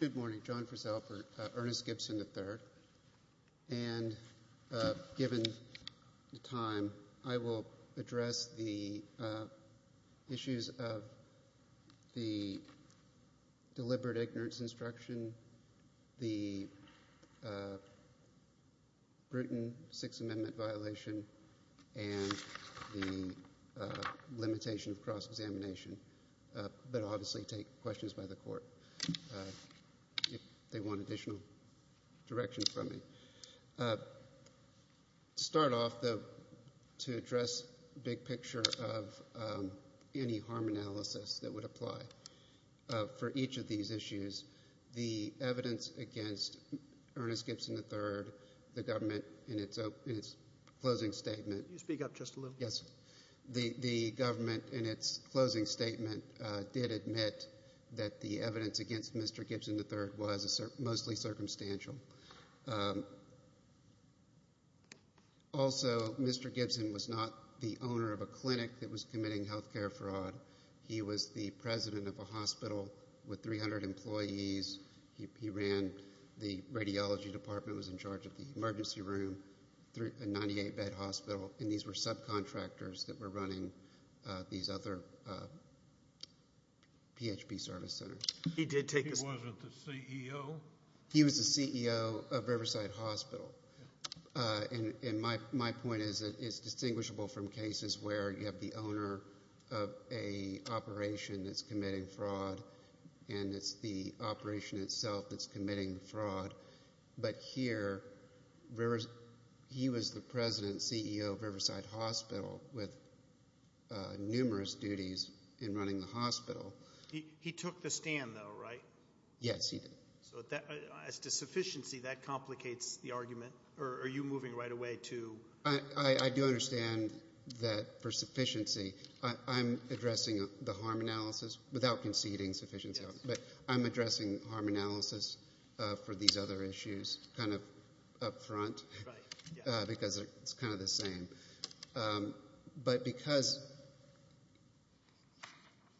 Good morning, John Frisell, Ernest Gibson, III. Given the time, I will address the issues of the deliberate ignorance instruction, the Bruton Sixth Amendment violation, and the limitation of cross-examination. But I'll obviously take questions by the court if they want additional direction from me. To start off, to address the big picture of any harm analysis that would apply for each of these issues, the evidence against Ernest Gibson, III, the government in its closing statement, did admit that the evidence against Mr. Gibson, III was mostly circumstantial. Also, Mr. Gibson was not the owner of a clinic that was committing health care fraud. He was the president of a hospital with 300 employees. He ran the radiology department, was in charge of the emergency room, a 98-bed hospital, and these were subcontractors that were running these other PHP service centers. He wasn't the CEO? He was the CEO of Riverside Hospital. My point is that it's distinguishable from cases where you have the owner of an operation that's committing fraud and it's the operation itself that's committing fraud. But here, he was the president and CEO of Riverside Hospital with numerous duties in running the hospital. He took the stand, though, right? Yes, he did. As to sufficiency, that complicates the argument. Are you moving right away to— I do understand that for sufficiency, I'm addressing the harm analysis without conceding sufficiency, but I'm addressing harm analysis for these other issues kind of up front because it's kind of the same. But because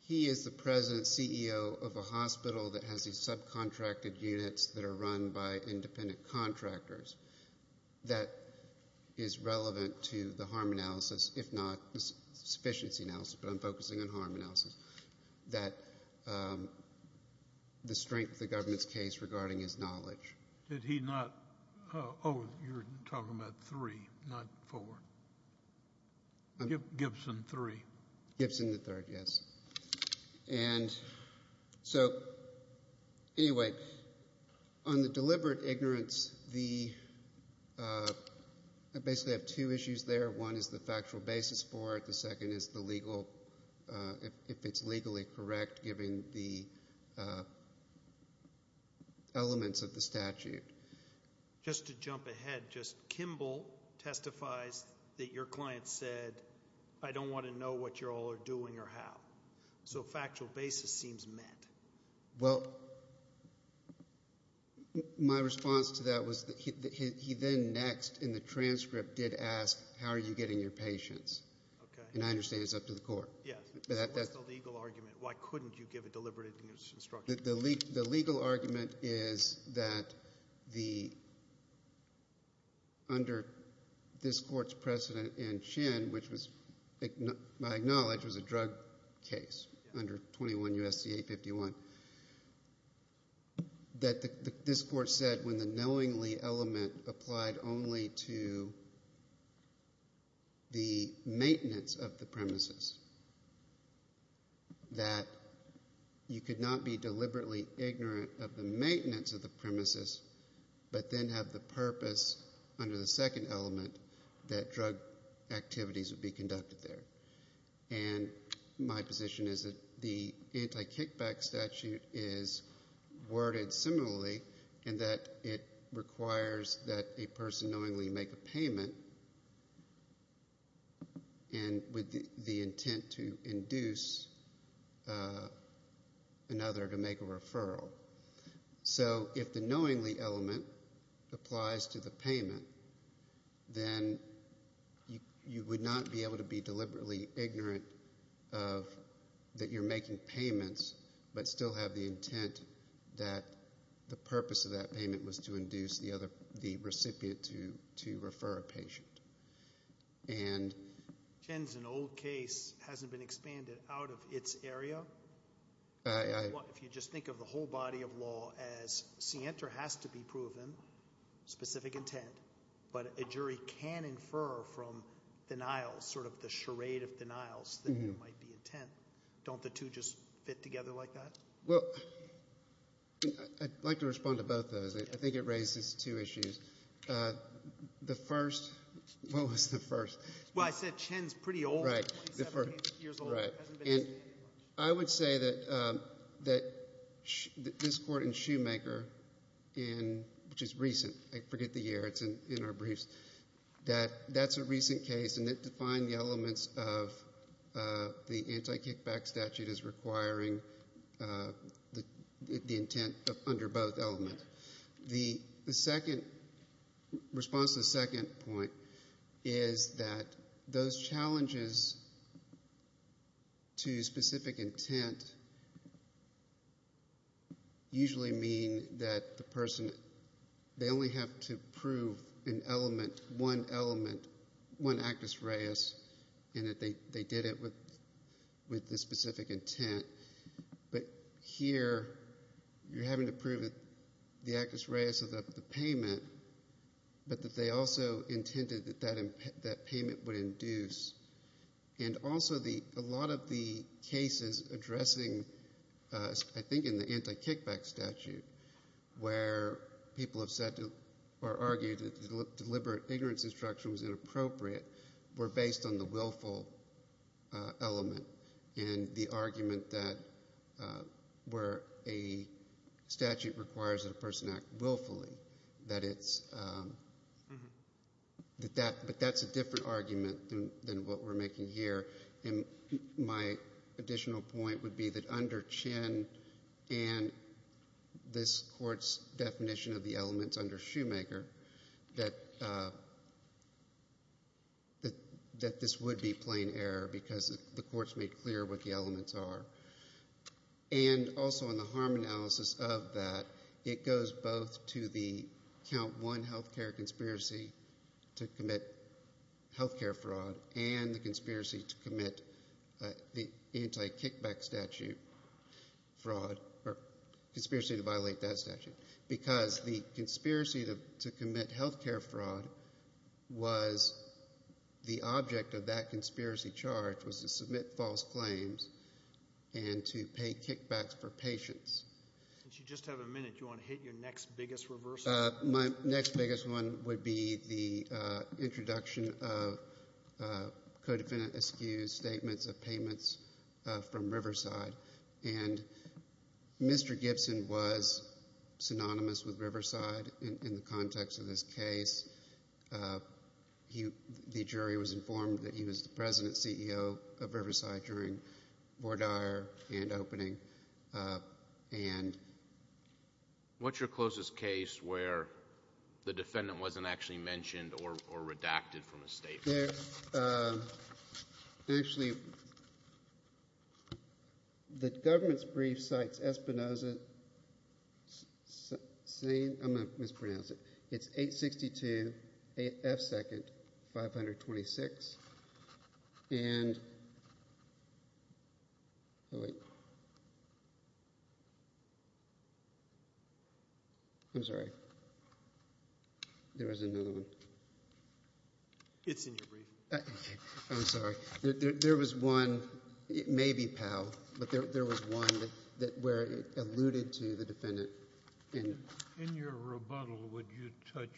he is the president and CEO of a hospital that has these subcontracted units that are run by independent contractors, that is relevant to the harm analysis, if not sufficiency analysis, but I'm focusing on harm analysis, that the strength of the government's case regarding his knowledge— Did he not—oh, you're talking about three, not four. Gibson, three. Gibson, the third, yes. So anyway, on the deliberate ignorance, I basically have two issues there. One is the factual basis for it. The second is the legal—if it's legally correct, given the elements of the statute. Just to jump ahead, just Kimball testifies that your client said, I don't want to know what you all are doing or how. So factual basis seems met. Well, my response to that was that he then next in the transcript did ask, how are you getting your patients? And I understand it's up to the court. Yes, but what's the legal argument? Why couldn't you give a deliberate ignorance instruction? The legal argument is that under this court's precedent in Chin, which I acknowledge was a drug case under 21 U.S.C. 851, that this court said when the knowingly element applied only to the maintenance of the premises, that you could not be deliberately ignorant of the maintenance of the premises but then have the purpose under the second element that drug activities would be conducted there. And my position is that the anti-kickback statute is worded similarly in that it requires that a person knowingly make a payment and with the intent to induce another to make a referral. So if the knowingly element applies to the payment, then you would not be able to be deliberately ignorant that you're making payments but still have the intent that the purpose of that payment was to induce the recipient to refer a patient. Chin's an old case. It hasn't been expanded out of its area. If you just think of the whole body of law as scienter has to be proven, specific intent, but a jury can infer from denials, sort of the charade of denials, that there might be intent. Don't the two just fit together like that? Well, I'd like to respond to both of those. I think it raises two issues. The first, what was the first? Well, I said Chin's pretty old. Right. I would say that this court in Shoemaker, which is recent, I forget the year, it's in our briefs, that that's a recent case and it defined the elements of the anti-kickback statute as requiring the intent under both elements. Correct. The second, response to the second point, is that those challenges to specific intent usually mean that the person, they only have to prove one element, one actus reus, and that they did it with the specific intent. But here you're having to prove the actus reus of the payment, but that they also intended that that payment would induce. And also a lot of the cases addressing, I think in the anti-kickback statute, where people have said or argued that deliberate ignorance instruction was inappropriate were based on the willful element and the argument that where a statute requires that a person act willfully, but that's a different argument than what we're making here. My additional point would be that under Chin and this court's definition of the elements under Shoemaker, that this would be plain error because the court's made clear what the elements are. And also in the harm analysis of that, it goes both to the count one health care conspiracy to commit health care fraud and the conspiracy to commit the anti-kickback statute fraud, or conspiracy to violate that statute. Because the conspiracy to commit health care fraud was the object of that conspiracy charge was to submit false claims and to pay kickbacks for patients. Since you just have a minute, do you want to hit your next biggest reversal? My next biggest one would be the introduction of codefinite excuse statements of payments from Riverside. And Mr. Gibson was synonymous with Riverside in the context of this case. The jury was informed that he was the president and CEO of Riverside during Vordaer and opening. And what's your closest case where the defendant wasn't actually mentioned or redacted from a statement? Actually, the government's brief cites Espinoza saying – I'm going to mispronounce it. It's 862 F. Second, 526. And – oh, wait. I'm sorry. There was another one. It's in your brief. I'm sorry. There was one – it may be Powell, but there was one where it alluded to the defendant. In your rebuttal, would you touch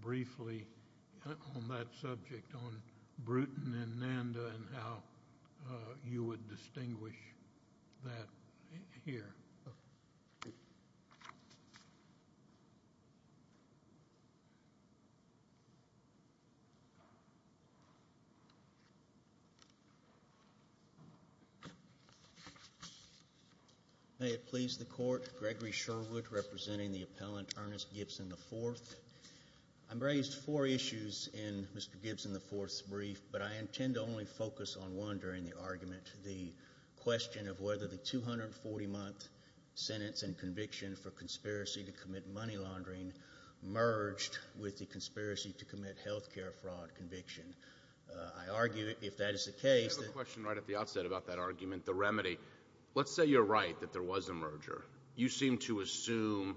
briefly on that subject on Bruton and Nanda and how you would distinguish that here? May it please the Court. Gregory Sherwood representing the appellant Ernest Gibson IV. I've raised four issues in Mr. Gibson IV's brief, but I intend to only focus on one during the argument, the question of whether the 240-month sentence and conviction for conspiracy to commit money laundering merged with the conspiracy to commit health care fraud conviction. I argue if that is the case – I have a question right at the outset about that argument, the remedy. Let's say you're right that there was a merger. You seem to assume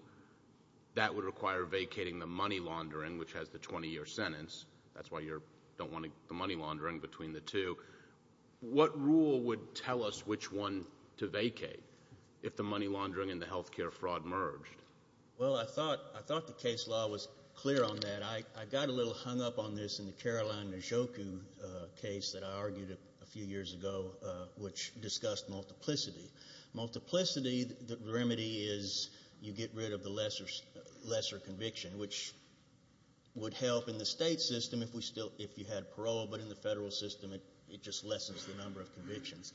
that would require vacating the money laundering, which has the 20-year sentence. That's why you don't want the money laundering between the two. What rule would tell us which one to vacate if the money laundering and the health care fraud merged? Well, I thought the case law was clear on that. I got a little hung up on this in the Caroline Najoku case that I argued a few years ago, which discussed multiplicity. Multiplicity, the remedy is you get rid of the lesser conviction, which would help in the state system if you had parole, but in the federal system it just lessens the number of convictions.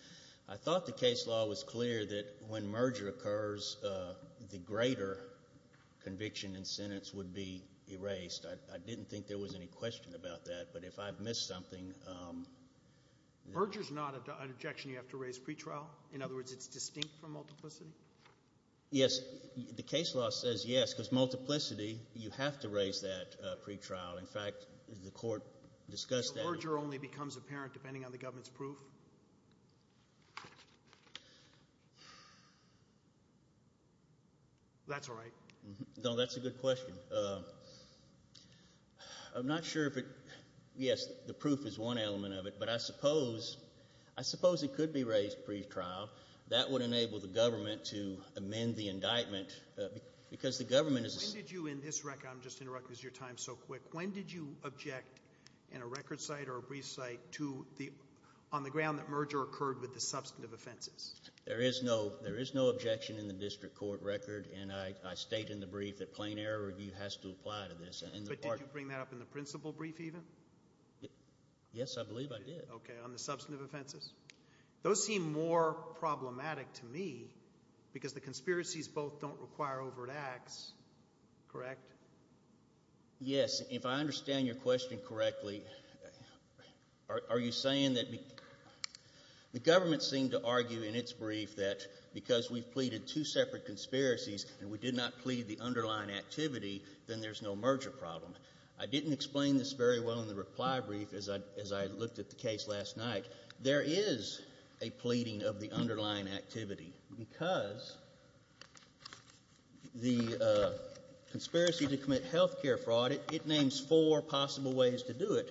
I thought the case law was clear that when merger occurs, the greater conviction and sentence would be erased. I didn't think there was any question about that, but if I've missed something – Merger is not an objection you have to raise pretrial? In other words, it's distinct from multiplicity? Yes. The case law says yes, because multiplicity you have to raise that pretrial. In fact, the court discussed that. Merger only becomes apparent depending on the government's proof? That's all right. No, that's a good question. I'm not sure if it – yes, the proof is one element of it, but I suppose it could be raised pretrial. That would enable the government to amend the indictment because the government is – When did you in this record – I'm just interrupting because your time is so quick. When did you object in a record site or a brief site to the – on the ground that merger occurred with the substantive offenses? There is no objection in the district court record, and I state in the brief that plain error review has to apply to this. But did you bring that up in the principal brief even? Yes, I believe I did. Okay, on the substantive offenses. Those seem more problematic to me because the conspiracies both don't require overt acts, correct? Yes. If I understand your question correctly, are you saying that the government seemed to argue in its brief that because we've pleaded two separate conspiracies and we did not plead the underlying activity, then there's no merger problem. I didn't explain this very well in the reply brief as I looked at the case last night. There is a pleading of the underlying activity because the conspiracy to commit health care fraud, it names four possible ways to do it,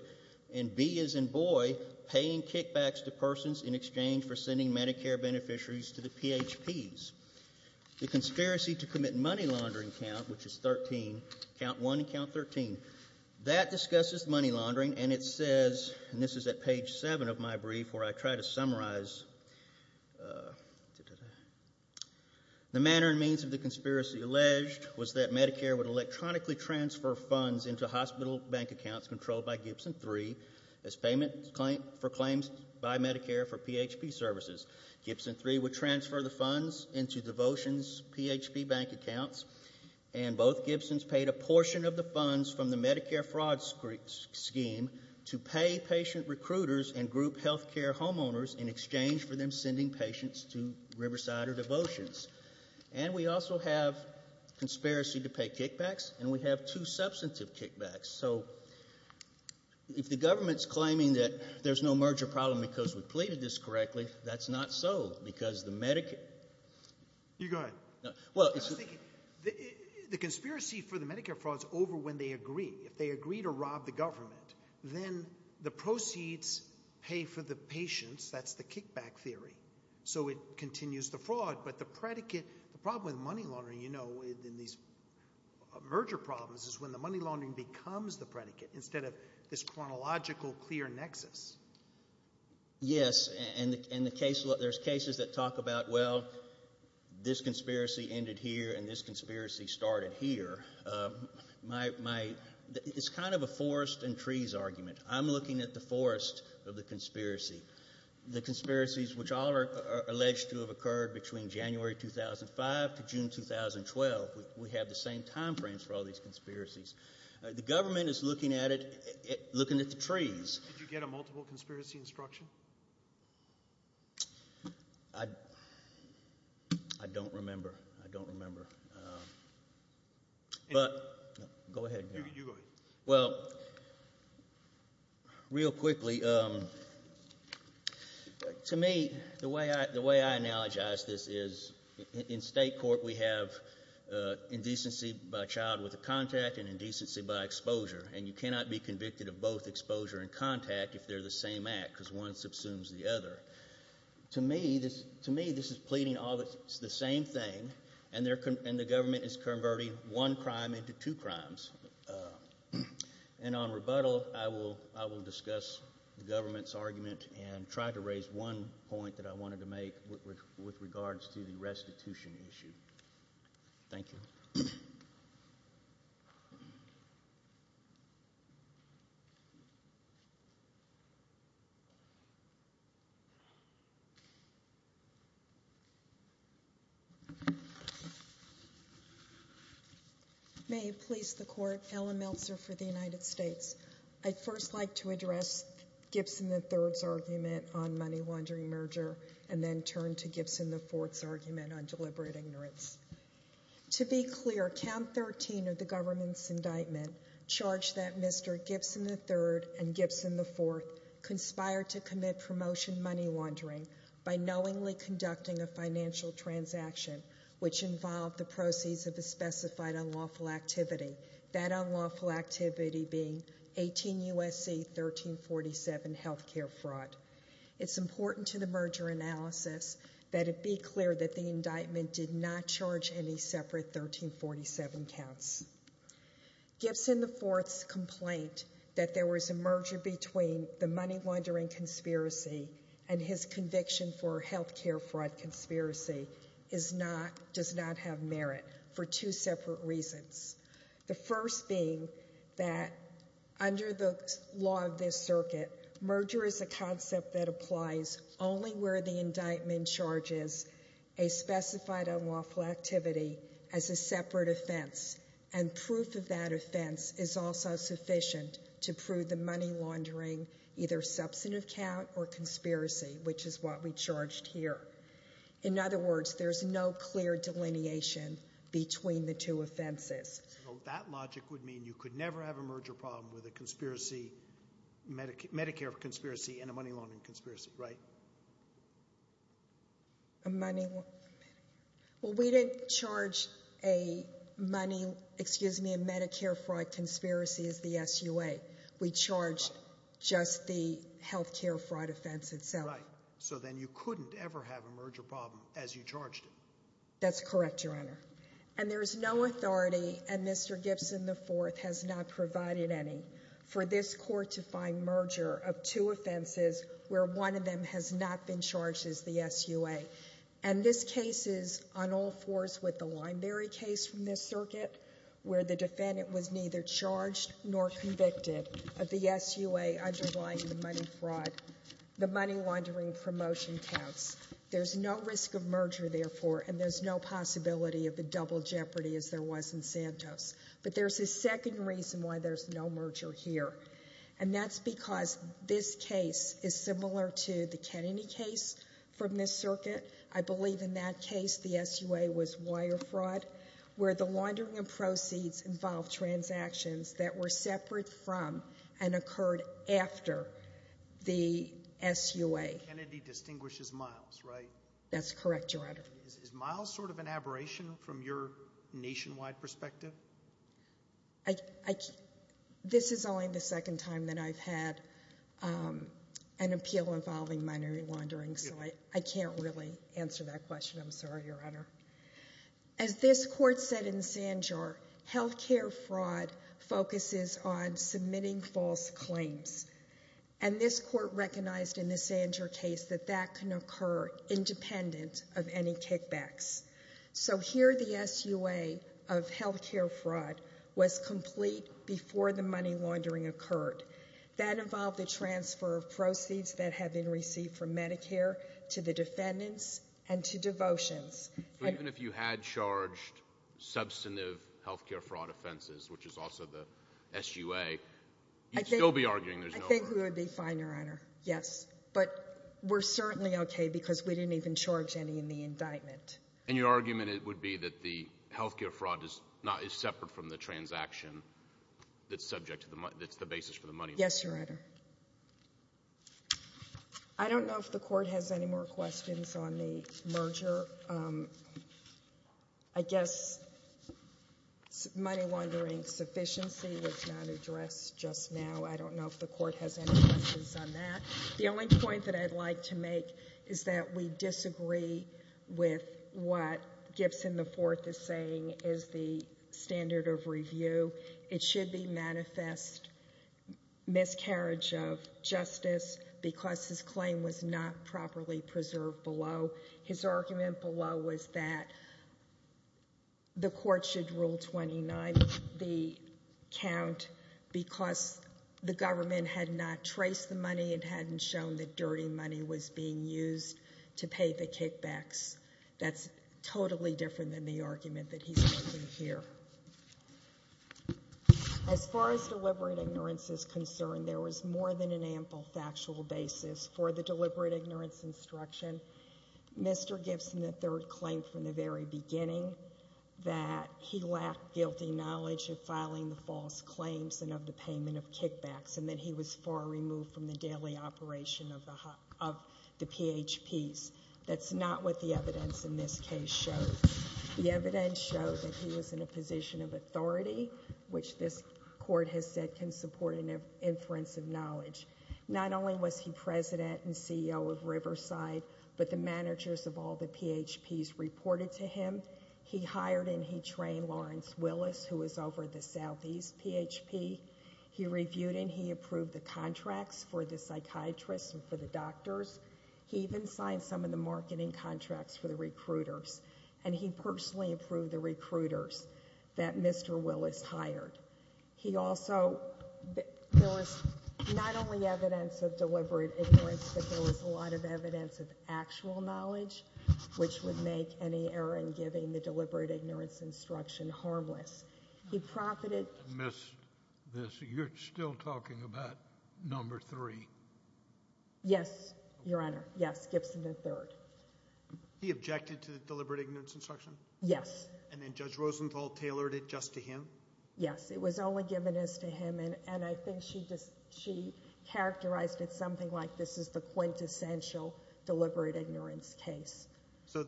and B as in boy, paying kickbacks to persons in exchange for sending Medicare beneficiaries to the PHPs. The conspiracy to commit money laundering count, which is 13, count 1 and count 13, that discusses money laundering, and it says, and this is at page 7 of my brief where I try to summarize, the manner and means of the conspiracy alleged was that Medicare would electronically transfer funds into hospital bank accounts controlled by Gibson III as payment for claims by Medicare for PHP services. Gibson III would transfer the funds into Devotion's PHP bank accounts, and both Gibsons paid a portion of the funds from the Medicare fraud scheme to pay patient recruiters and group health care homeowners in exchange for them sending patients to Riverside or Devotions. And we also have conspiracy to pay kickbacks, and we have two substantive kickbacks. So if the government's claiming that there's no merger problem because we pleaded this correctly, that's not so because the Medicare You go ahead. I was thinking the conspiracy for the Medicare fraud is over when they agree. If they agree to rob the government, then the proceeds pay for the patients. That's the kickback theory. So it continues the fraud, but the predicate, the problem with money laundering, you know, in these merger problems is when the money laundering becomes the predicate instead of this chronological clear nexus. Yes, and there's cases that talk about, well, this conspiracy ended here and this conspiracy started here. It's kind of a forest and trees argument. I'm looking at the forest of the conspiracy, the conspiracies which all are alleged to have occurred between January 2005 to June 2012. We have the same time frames for all these conspiracies. The government is looking at it, looking at the trees. Did you get a multiple conspiracy instruction? I don't remember. I don't remember. Go ahead. You go ahead. Well, real quickly, to me, the way I analogize this is in state court we have indecency by child with a contact and indecency by exposure. And you cannot be convicted of both exposure and contact if they're the same act because one subsumes the other. To me, this is pleading all the same thing, and the government is converting one crime into two crimes. And on rebuttal, I will discuss the government's argument and try to raise one point that I wanted to make with regards to the restitution issue. Thank you. May it please the court, Ellen Meltzer for the United States. I'd first like to address Gibson III's argument on money laundering merger and then turn to Gibson IV's argument on deliberate ignorance. To be clear, count 13 of the government's indictment charged that Mr. Gibson III and Gibson IV conspired to commit promotion money laundering by knowingly conducting a financial transaction which involved the proceeds of a specified unlawful activity, that unlawful activity being 18 U.S.C. 1347 healthcare fraud. It's important to the merger analysis that it be clear that the indictment did not charge any separate 1347 counts. Gibson IV's complaint that there was a merger between the money laundering conspiracy and his conviction for healthcare fraud conspiracy does not have merit for two separate reasons. The first being that under the law of this circuit, merger is a concept that applies only where the indictment charges a specified unlawful activity as a separate offense and proof of that offense is also sufficient to prove the money laundering either substantive count or conspiracy, which is what we charged here. In other words, there's no clear delineation between the two offenses. So that logic would mean you could never have a merger problem with a conspiracy, Medicare conspiracy and a money laundering conspiracy, right? Well, we didn't charge a money, excuse me, a Medicare fraud conspiracy as the SUA. We charged just the healthcare fraud offense itself. Right. So then you couldn't ever have a merger problem as you charged it. That's correct, Your Honor. And there is no authority and Mr. Gibson IV has not provided any for this court to find merger of two offenses where one of them has not been charged as the SUA. And this case is on all fours with the Limeberry case from this circuit where the defendant was neither charged nor convicted of the SUA underlying the money fraud. The money laundering promotion counts. There's no risk of merger, therefore, and there's no possibility of the double jeopardy as there was in Santos. But there's a second reason why there's no merger here. And that's because this case is similar to the Kennedy case from this circuit. I believe in that case the SUA was wire fraud where the laundering of proceeds involved transactions that were separate from and occurred after the SUA. Kennedy distinguishes miles, right? That's correct, Your Honor. Is miles sort of an aberration from your nationwide perspective? This is only the second time that I've had an appeal involving money laundering, so I can't really answer that question. I'm sorry, Your Honor. As this court said in Sandjar, health care fraud focuses on submitting false claims. And this court recognized in the Sandjar case that that can occur independent of any kickbacks. So here the SUA of health care fraud was complete before the money laundering occurred. That involved the transfer of proceeds that had been received from Medicare to the defendants and to devotions. Even if you had charged substantive health care fraud offenses, which is also the SUA, you'd still be arguing there's no merger? I think we would be fine, Your Honor, yes. But we're certainly okay because we didn't even charge any in the indictment. And your argument would be that the health care fraud is separate from the transaction that's the basis for the money laundering? Yes, Your Honor. I don't know if the court has any more questions on the merger. I guess money laundering sufficiency was not addressed just now. I don't know if the court has any questions on that. The only point that I'd like to make is that we disagree with what Gibson IV is saying is the standard of review. It should be manifest miscarriage of justice because his claim was not properly preserved below. So his argument below was that the court should rule 29B count because the government had not traced the money and hadn't shown that dirty money was being used to pay the kickbacks. That's totally different than the argument that he's making here. As far as deliberate ignorance is concerned, there was more than an ample factual basis for the deliberate ignorance instruction. Mr. Gibson III claimed from the very beginning that he lacked guilty knowledge of filing the false claims and of the payment of kickbacks and that he was far removed from the daily operation of the PHPs. That's not what the evidence in this case shows. The evidence shows that he was in a position of authority, which this court has said can support an inference of knowledge. Not only was he president and CEO of Riverside, but the managers of all the PHPs reported to him. He hired and he trained Lawrence Willis, who was over at the Southeast PHP. He reviewed and he approved the contracts for the psychiatrists and for the doctors. He even signed some of the marketing contracts for the recruiters. And he personally approved the recruiters that Mr. Willis hired. He also, there was not only evidence of deliberate ignorance, but there was a lot of evidence of actual knowledge, which would make any error in giving the deliberate ignorance instruction harmless. He profited. Miss, you're still talking about number three. Yes, Your Honor. Yes, Gibson III. He objected to the deliberate ignorance instruction? Yes. And then Judge Rosenthal tailored it just to him? Yes, it was only given as to him. And I think she characterized it something like this is the quintessential deliberate ignorance case. So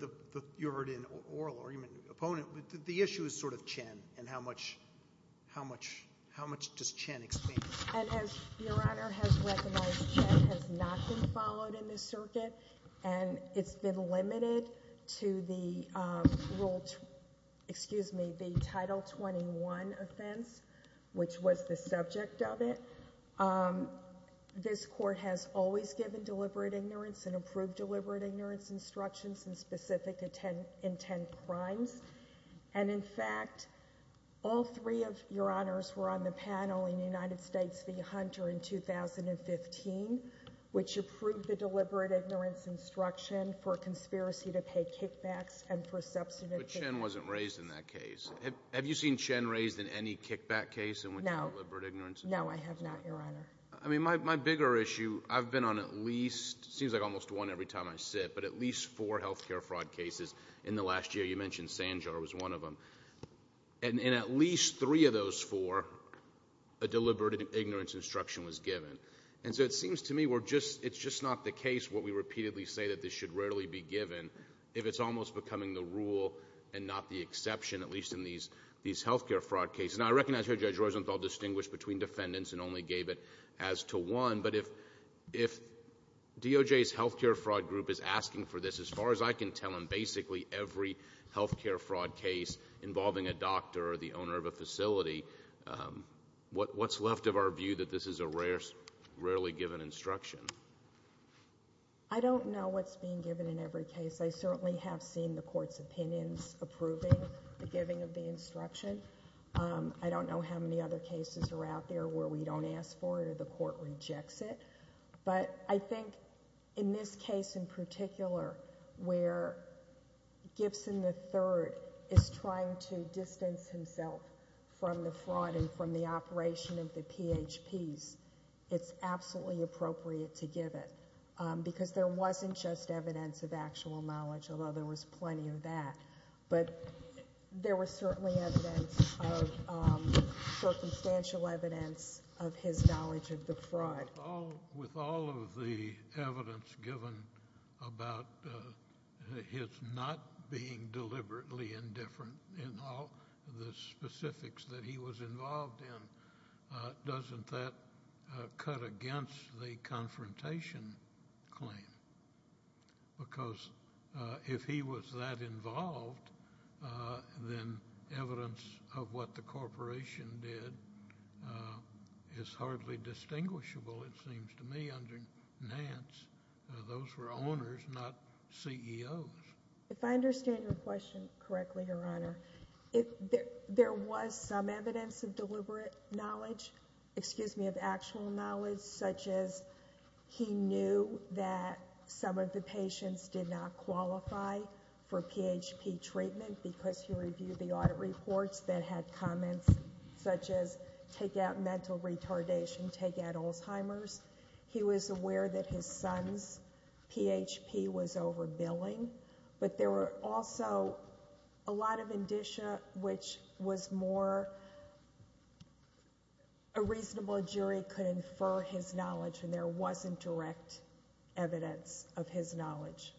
you're already an oral argument opponent. The issue is sort of Chen and how much does Chen explain? And as Your Honor has recognized, Chen has not been followed in this circuit. And it's been limited to the rule, excuse me, the Title 21 offense, which was the subject of it. This court has always given deliberate ignorance and approved deliberate ignorance instructions and specific intent crimes. And in fact, all three of Your Honors were on the panel in the United States v. Hunter in 2015, which approved the deliberate ignorance instruction for conspiracy to pay kickbacks and for substantive... But Chen wasn't raised in that case. Have you seen Chen raised in any kickback case in which deliberate ignorance... No. No, I have not, Your Honor. I mean, my bigger issue, I've been on at least, seems like almost one every time I sit, but at least four healthcare fraud cases in the last year. You mentioned Sanjar was one of them. And in at least three of those four, a deliberate ignorance instruction was given. And so it seems to me we're just... it's just not the case what we repeatedly say that this should rarely be given, if it's almost becoming the rule and not the exception, at least in these healthcare fraud cases. And I recognize Judge Rosenthal distinguished between defendants and only gave it as to one. But if DOJ's healthcare fraud group is asking for this, as far as I can tell, in basically every healthcare fraud case involving a doctor or the owner of a facility, what's left of our view that this is a rarely given instruction? I don't know what's being given in every case. I certainly have seen the Court's opinions approving the giving of the instruction. I don't know how many other cases are out there where we don't ask for it or where the Court rejects it. But I think in this case in particular, where Gibson III is trying to distance himself from the fraud and from the operation of the PHPs, it's absolutely appropriate to give it. Because there wasn't just evidence of actual knowledge, although there was plenty of that. But there was certainly evidence of circumstantial evidence of his knowledge of the fraud. With all of the evidence given about his not being deliberately indifferent in all the specifics that he was involved in, doesn't that cut against the confrontation claim? Because if he was that involved, then evidence of what the corporation did is hardly distinguishable, it seems to me, under Nance. Those were owners, not CEOs. If I understand your question correctly, Your Honor, there was some evidence of deliberate knowledge, excuse me, of actual knowledge, such as he knew that some of the patients did not qualify for PHP treatment because he reviewed the audit reports that had comments such as, take out mental retardation, take out Alzheimer's. He was aware that his son's PHP was overbilling. But there were also a lot of indicia which was more a reasonable jury could infer his knowledge, and there wasn't direct evidence of his knowledge.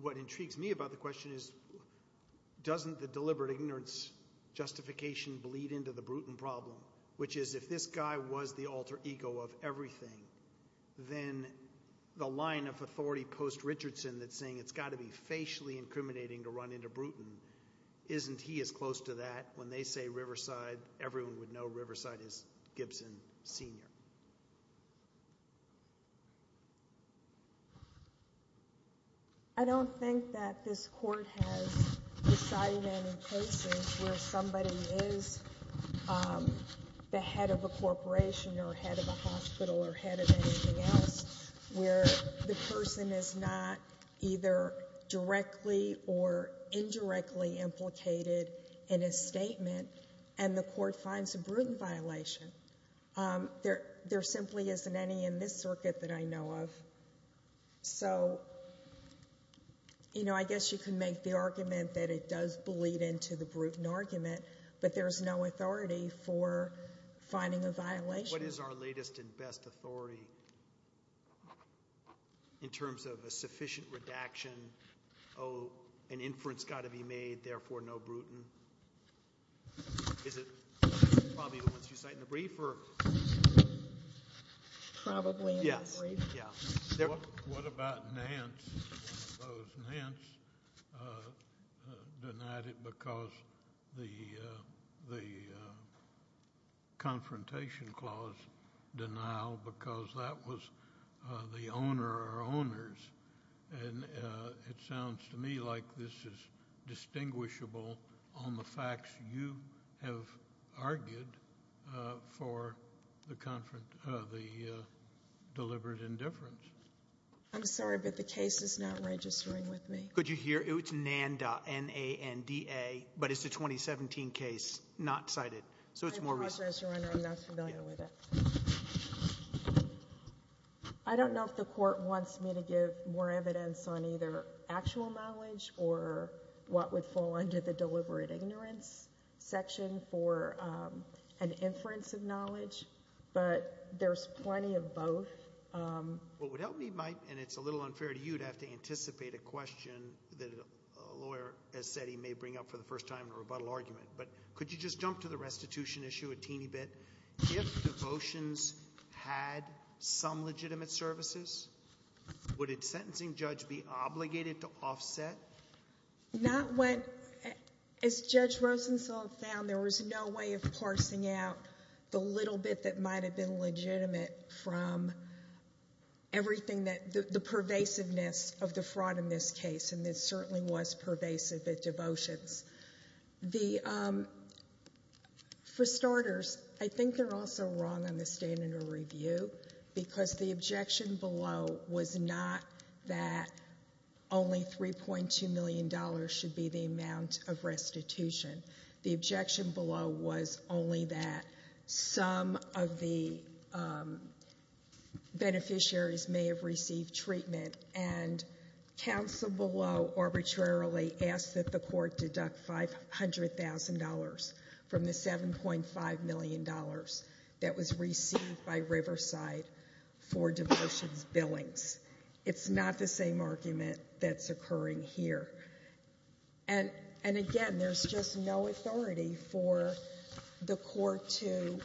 What intrigues me about the question is, doesn't the deliberate ignorance justification bleed into the Bruton problem, which is if this guy was the alter ego of everything, then the line of authority post-Richardson that's saying it's got to be facially incriminating to run into Bruton, isn't he as close to that when they say Riverside, everyone would know Riverside is Gibson Sr.? I don't think that this court has decided any cases where somebody is the head of a corporation or head of a hospital or head of anything else, where the person is not either directly or indirectly implicated in a statement, and the court finds a Bruton violation. There simply isn't any in this circuit that I know of. So, you know, I guess you can make the argument that it does bleed into the Bruton argument, but there's no authority for finding a violation. What is our latest and best authority in terms of a sufficient redaction, oh, an inference has got to be made, therefore no Bruton? Is it probably the ones you cite in the brief? Probably in the brief. What about Nance? I suppose Nance denied it because the confrontation clause denial because that was the owner or owners. And it sounds to me like this is distinguishable on the facts you have argued for the deliberate indifference. I'm sorry, but the case is not registering with me. Could you hear? It's Nanda, N-A-N-D-A, but it's a 2017 case, not cited. I apologize, Your Honor. I'm not familiar with it. I don't know if the Court wants me to give more evidence on either actual knowledge or what would fall under the deliberate ignorance section for an inference of knowledge, but there's plenty of both. What would help me, Mike, and it's a little unfair to you to have to anticipate a question that a lawyer has said he may bring up for the first time in a rebuttal argument, but could you just jump to the restitution issue a teeny bit? If devotions had some legitimate services, would a sentencing judge be obligated to offset? Not when, as Judge Rosenthal found, there was no way of parsing out the little bit that might have been legitimate from everything that, the pervasiveness of the fraud in this case, and it certainly was pervasive at devotions. The, for starters, I think they're also wrong on the standard of review, because the objection below was not that only $3.2 million should be the amount of restitution. The objection below was only that some of the beneficiaries may have received treatment, and counsel below arbitrarily asked that the court deduct $500,000 from the $7.5 million that was received by Riverside for devotions billings. It's not the same argument that's occurring here. And again, there's just no authority for the court to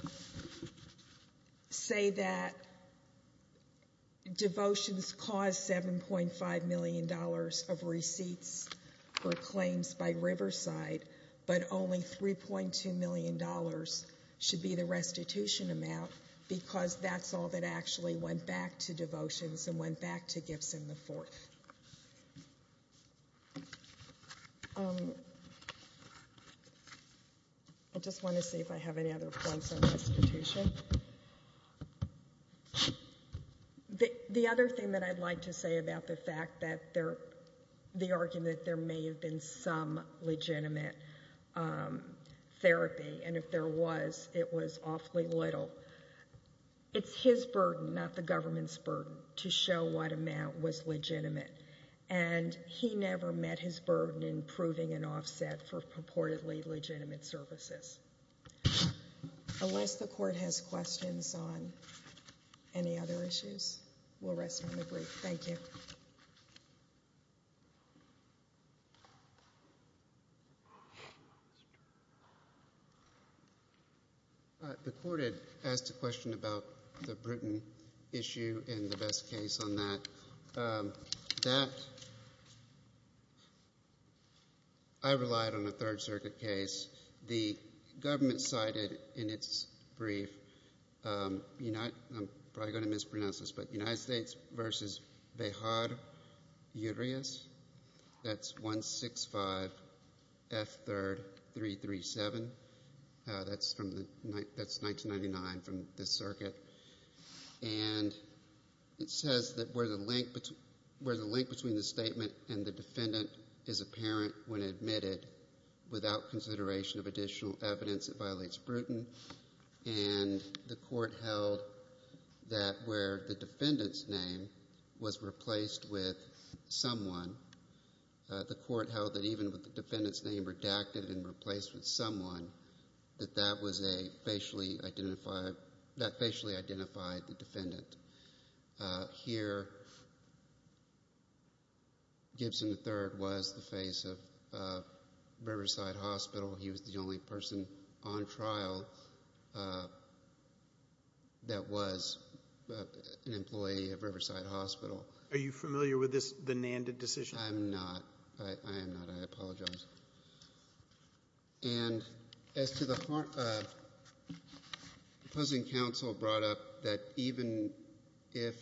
say that devotions caused $7.5 million of receipts for claims by Riverside, but only $3.2 million should be the restitution amount, because that's all that actually went back to devotions and went back to gifts in the fourth. I just want to see if I have any other points on restitution. The other thing that I'd like to say about the fact that there, the argument that there may have been some legitimate therapy, and if there was, it was awfully little. It's his burden, not the government's burden, to show what amount was legitimate, and he never met his burden in proving an offset for purportedly legitimate services. Unless the court has questions on any other issues, we'll rest on the brief. Thank you. The court had asked a question about the Bruton issue and the best case on that. That, I relied on a Third Circuit case. The government cited in its brief, I'm probably going to mispronounce this, but United States v. Behar Urias, that's 165F3337. That's 1999 from this circuit. And it says that where the link between the statement and the defendant is apparent when admitted, without consideration of additional evidence, it violates Bruton. And the court held that where the defendant's name was replaced with someone, the court held that even with the defendant's name redacted and replaced with someone, that that was a facially identified, that facially identified the defendant. Here, Gibson III was the face of Riverside Hospital. He was the only person on trial that was an employee of Riverside Hospital. Are you familiar with this, the Nanded decision? I am not. I am not. I apologize. And as to the opposing counsel brought up, that even if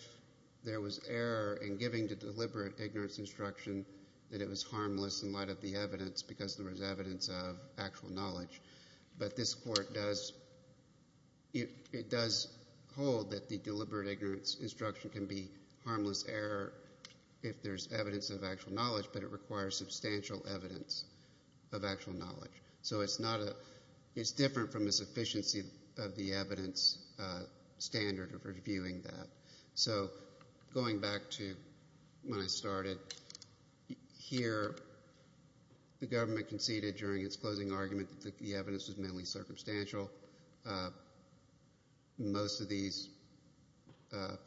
there was error in giving the deliberate ignorance instruction, that it was harmless in light of the evidence because there was evidence of actual knowledge. But this court does hold that the deliberate ignorance instruction can be harmless error if there's evidence of actual knowledge, but it requires substantial evidence of actual knowledge. So it's different from the sufficiency of the evidence standard of reviewing that. So going back to when I started, here the government conceded during its closing argument that the evidence was mainly circumstantial. Most of these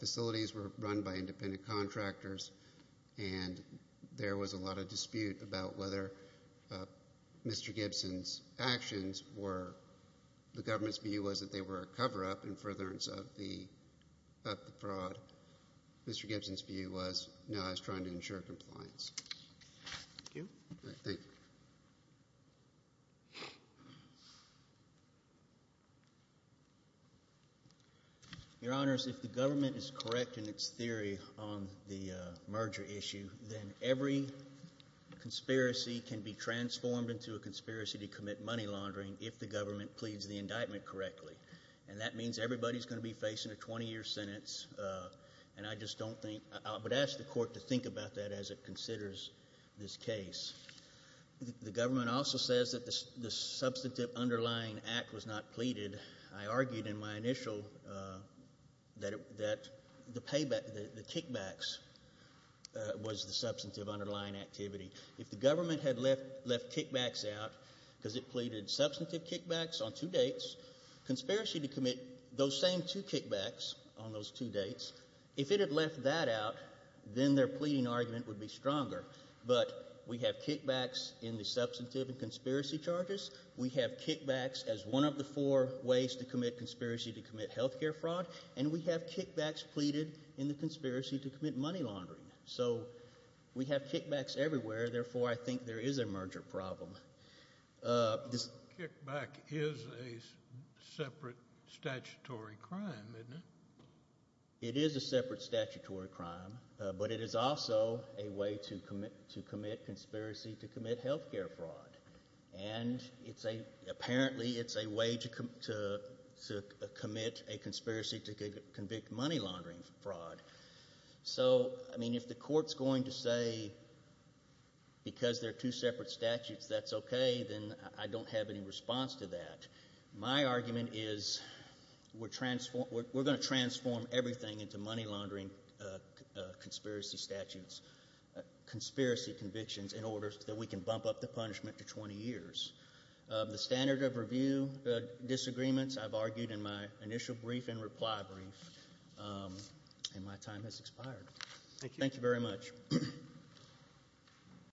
facilities were run by independent contractors, and there was a lot of dispute about whether Mr. Gibson's actions were, the government's view was that they were a cover-up in furtherance of the fraud. Mr. Gibson's view was, no, I was trying to ensure compliance. Thank you. Thank you. Your Honors, if the government is correct in its theory on the merger issue, then every conspiracy can be transformed into a conspiracy to commit money laundering if the government pleads the indictment correctly. And that means everybody is going to be facing a 20-year sentence, and I just don't think, I would ask the court to think about that as it considers this case. The government also says that the substantive underlying act was not pleaded. I argued in my initial that the kickbacks was the substantive underlying activity. If the government had left kickbacks out because it pleaded substantive kickbacks on two dates, conspiracy to commit those same two kickbacks on those two dates, if it had left that out, then their pleading argument would be stronger. But we have kickbacks in the substantive and conspiracy charges. We have kickbacks as one of the four ways to commit conspiracy to commit health care fraud, and we have kickbacks pleaded in the conspiracy to commit money laundering. So we have kickbacks everywhere. Therefore, I think there is a merger problem. Kickback is a separate statutory crime, isn't it? It is a separate statutory crime, but it is also a way to commit conspiracy to commit health care fraud. And apparently it's a way to commit a conspiracy to convict money laundering fraud. So, I mean, if the court's going to say because they're two separate statutes that's okay, then I don't have any response to that. My argument is we're going to transform everything into money laundering conspiracy statutes, conspiracy convictions in order that we can bump up the punishment to 20 years. The standard of review disagreements I've argued in my initial brief and reply brief, and my time has expired. Thank you very much.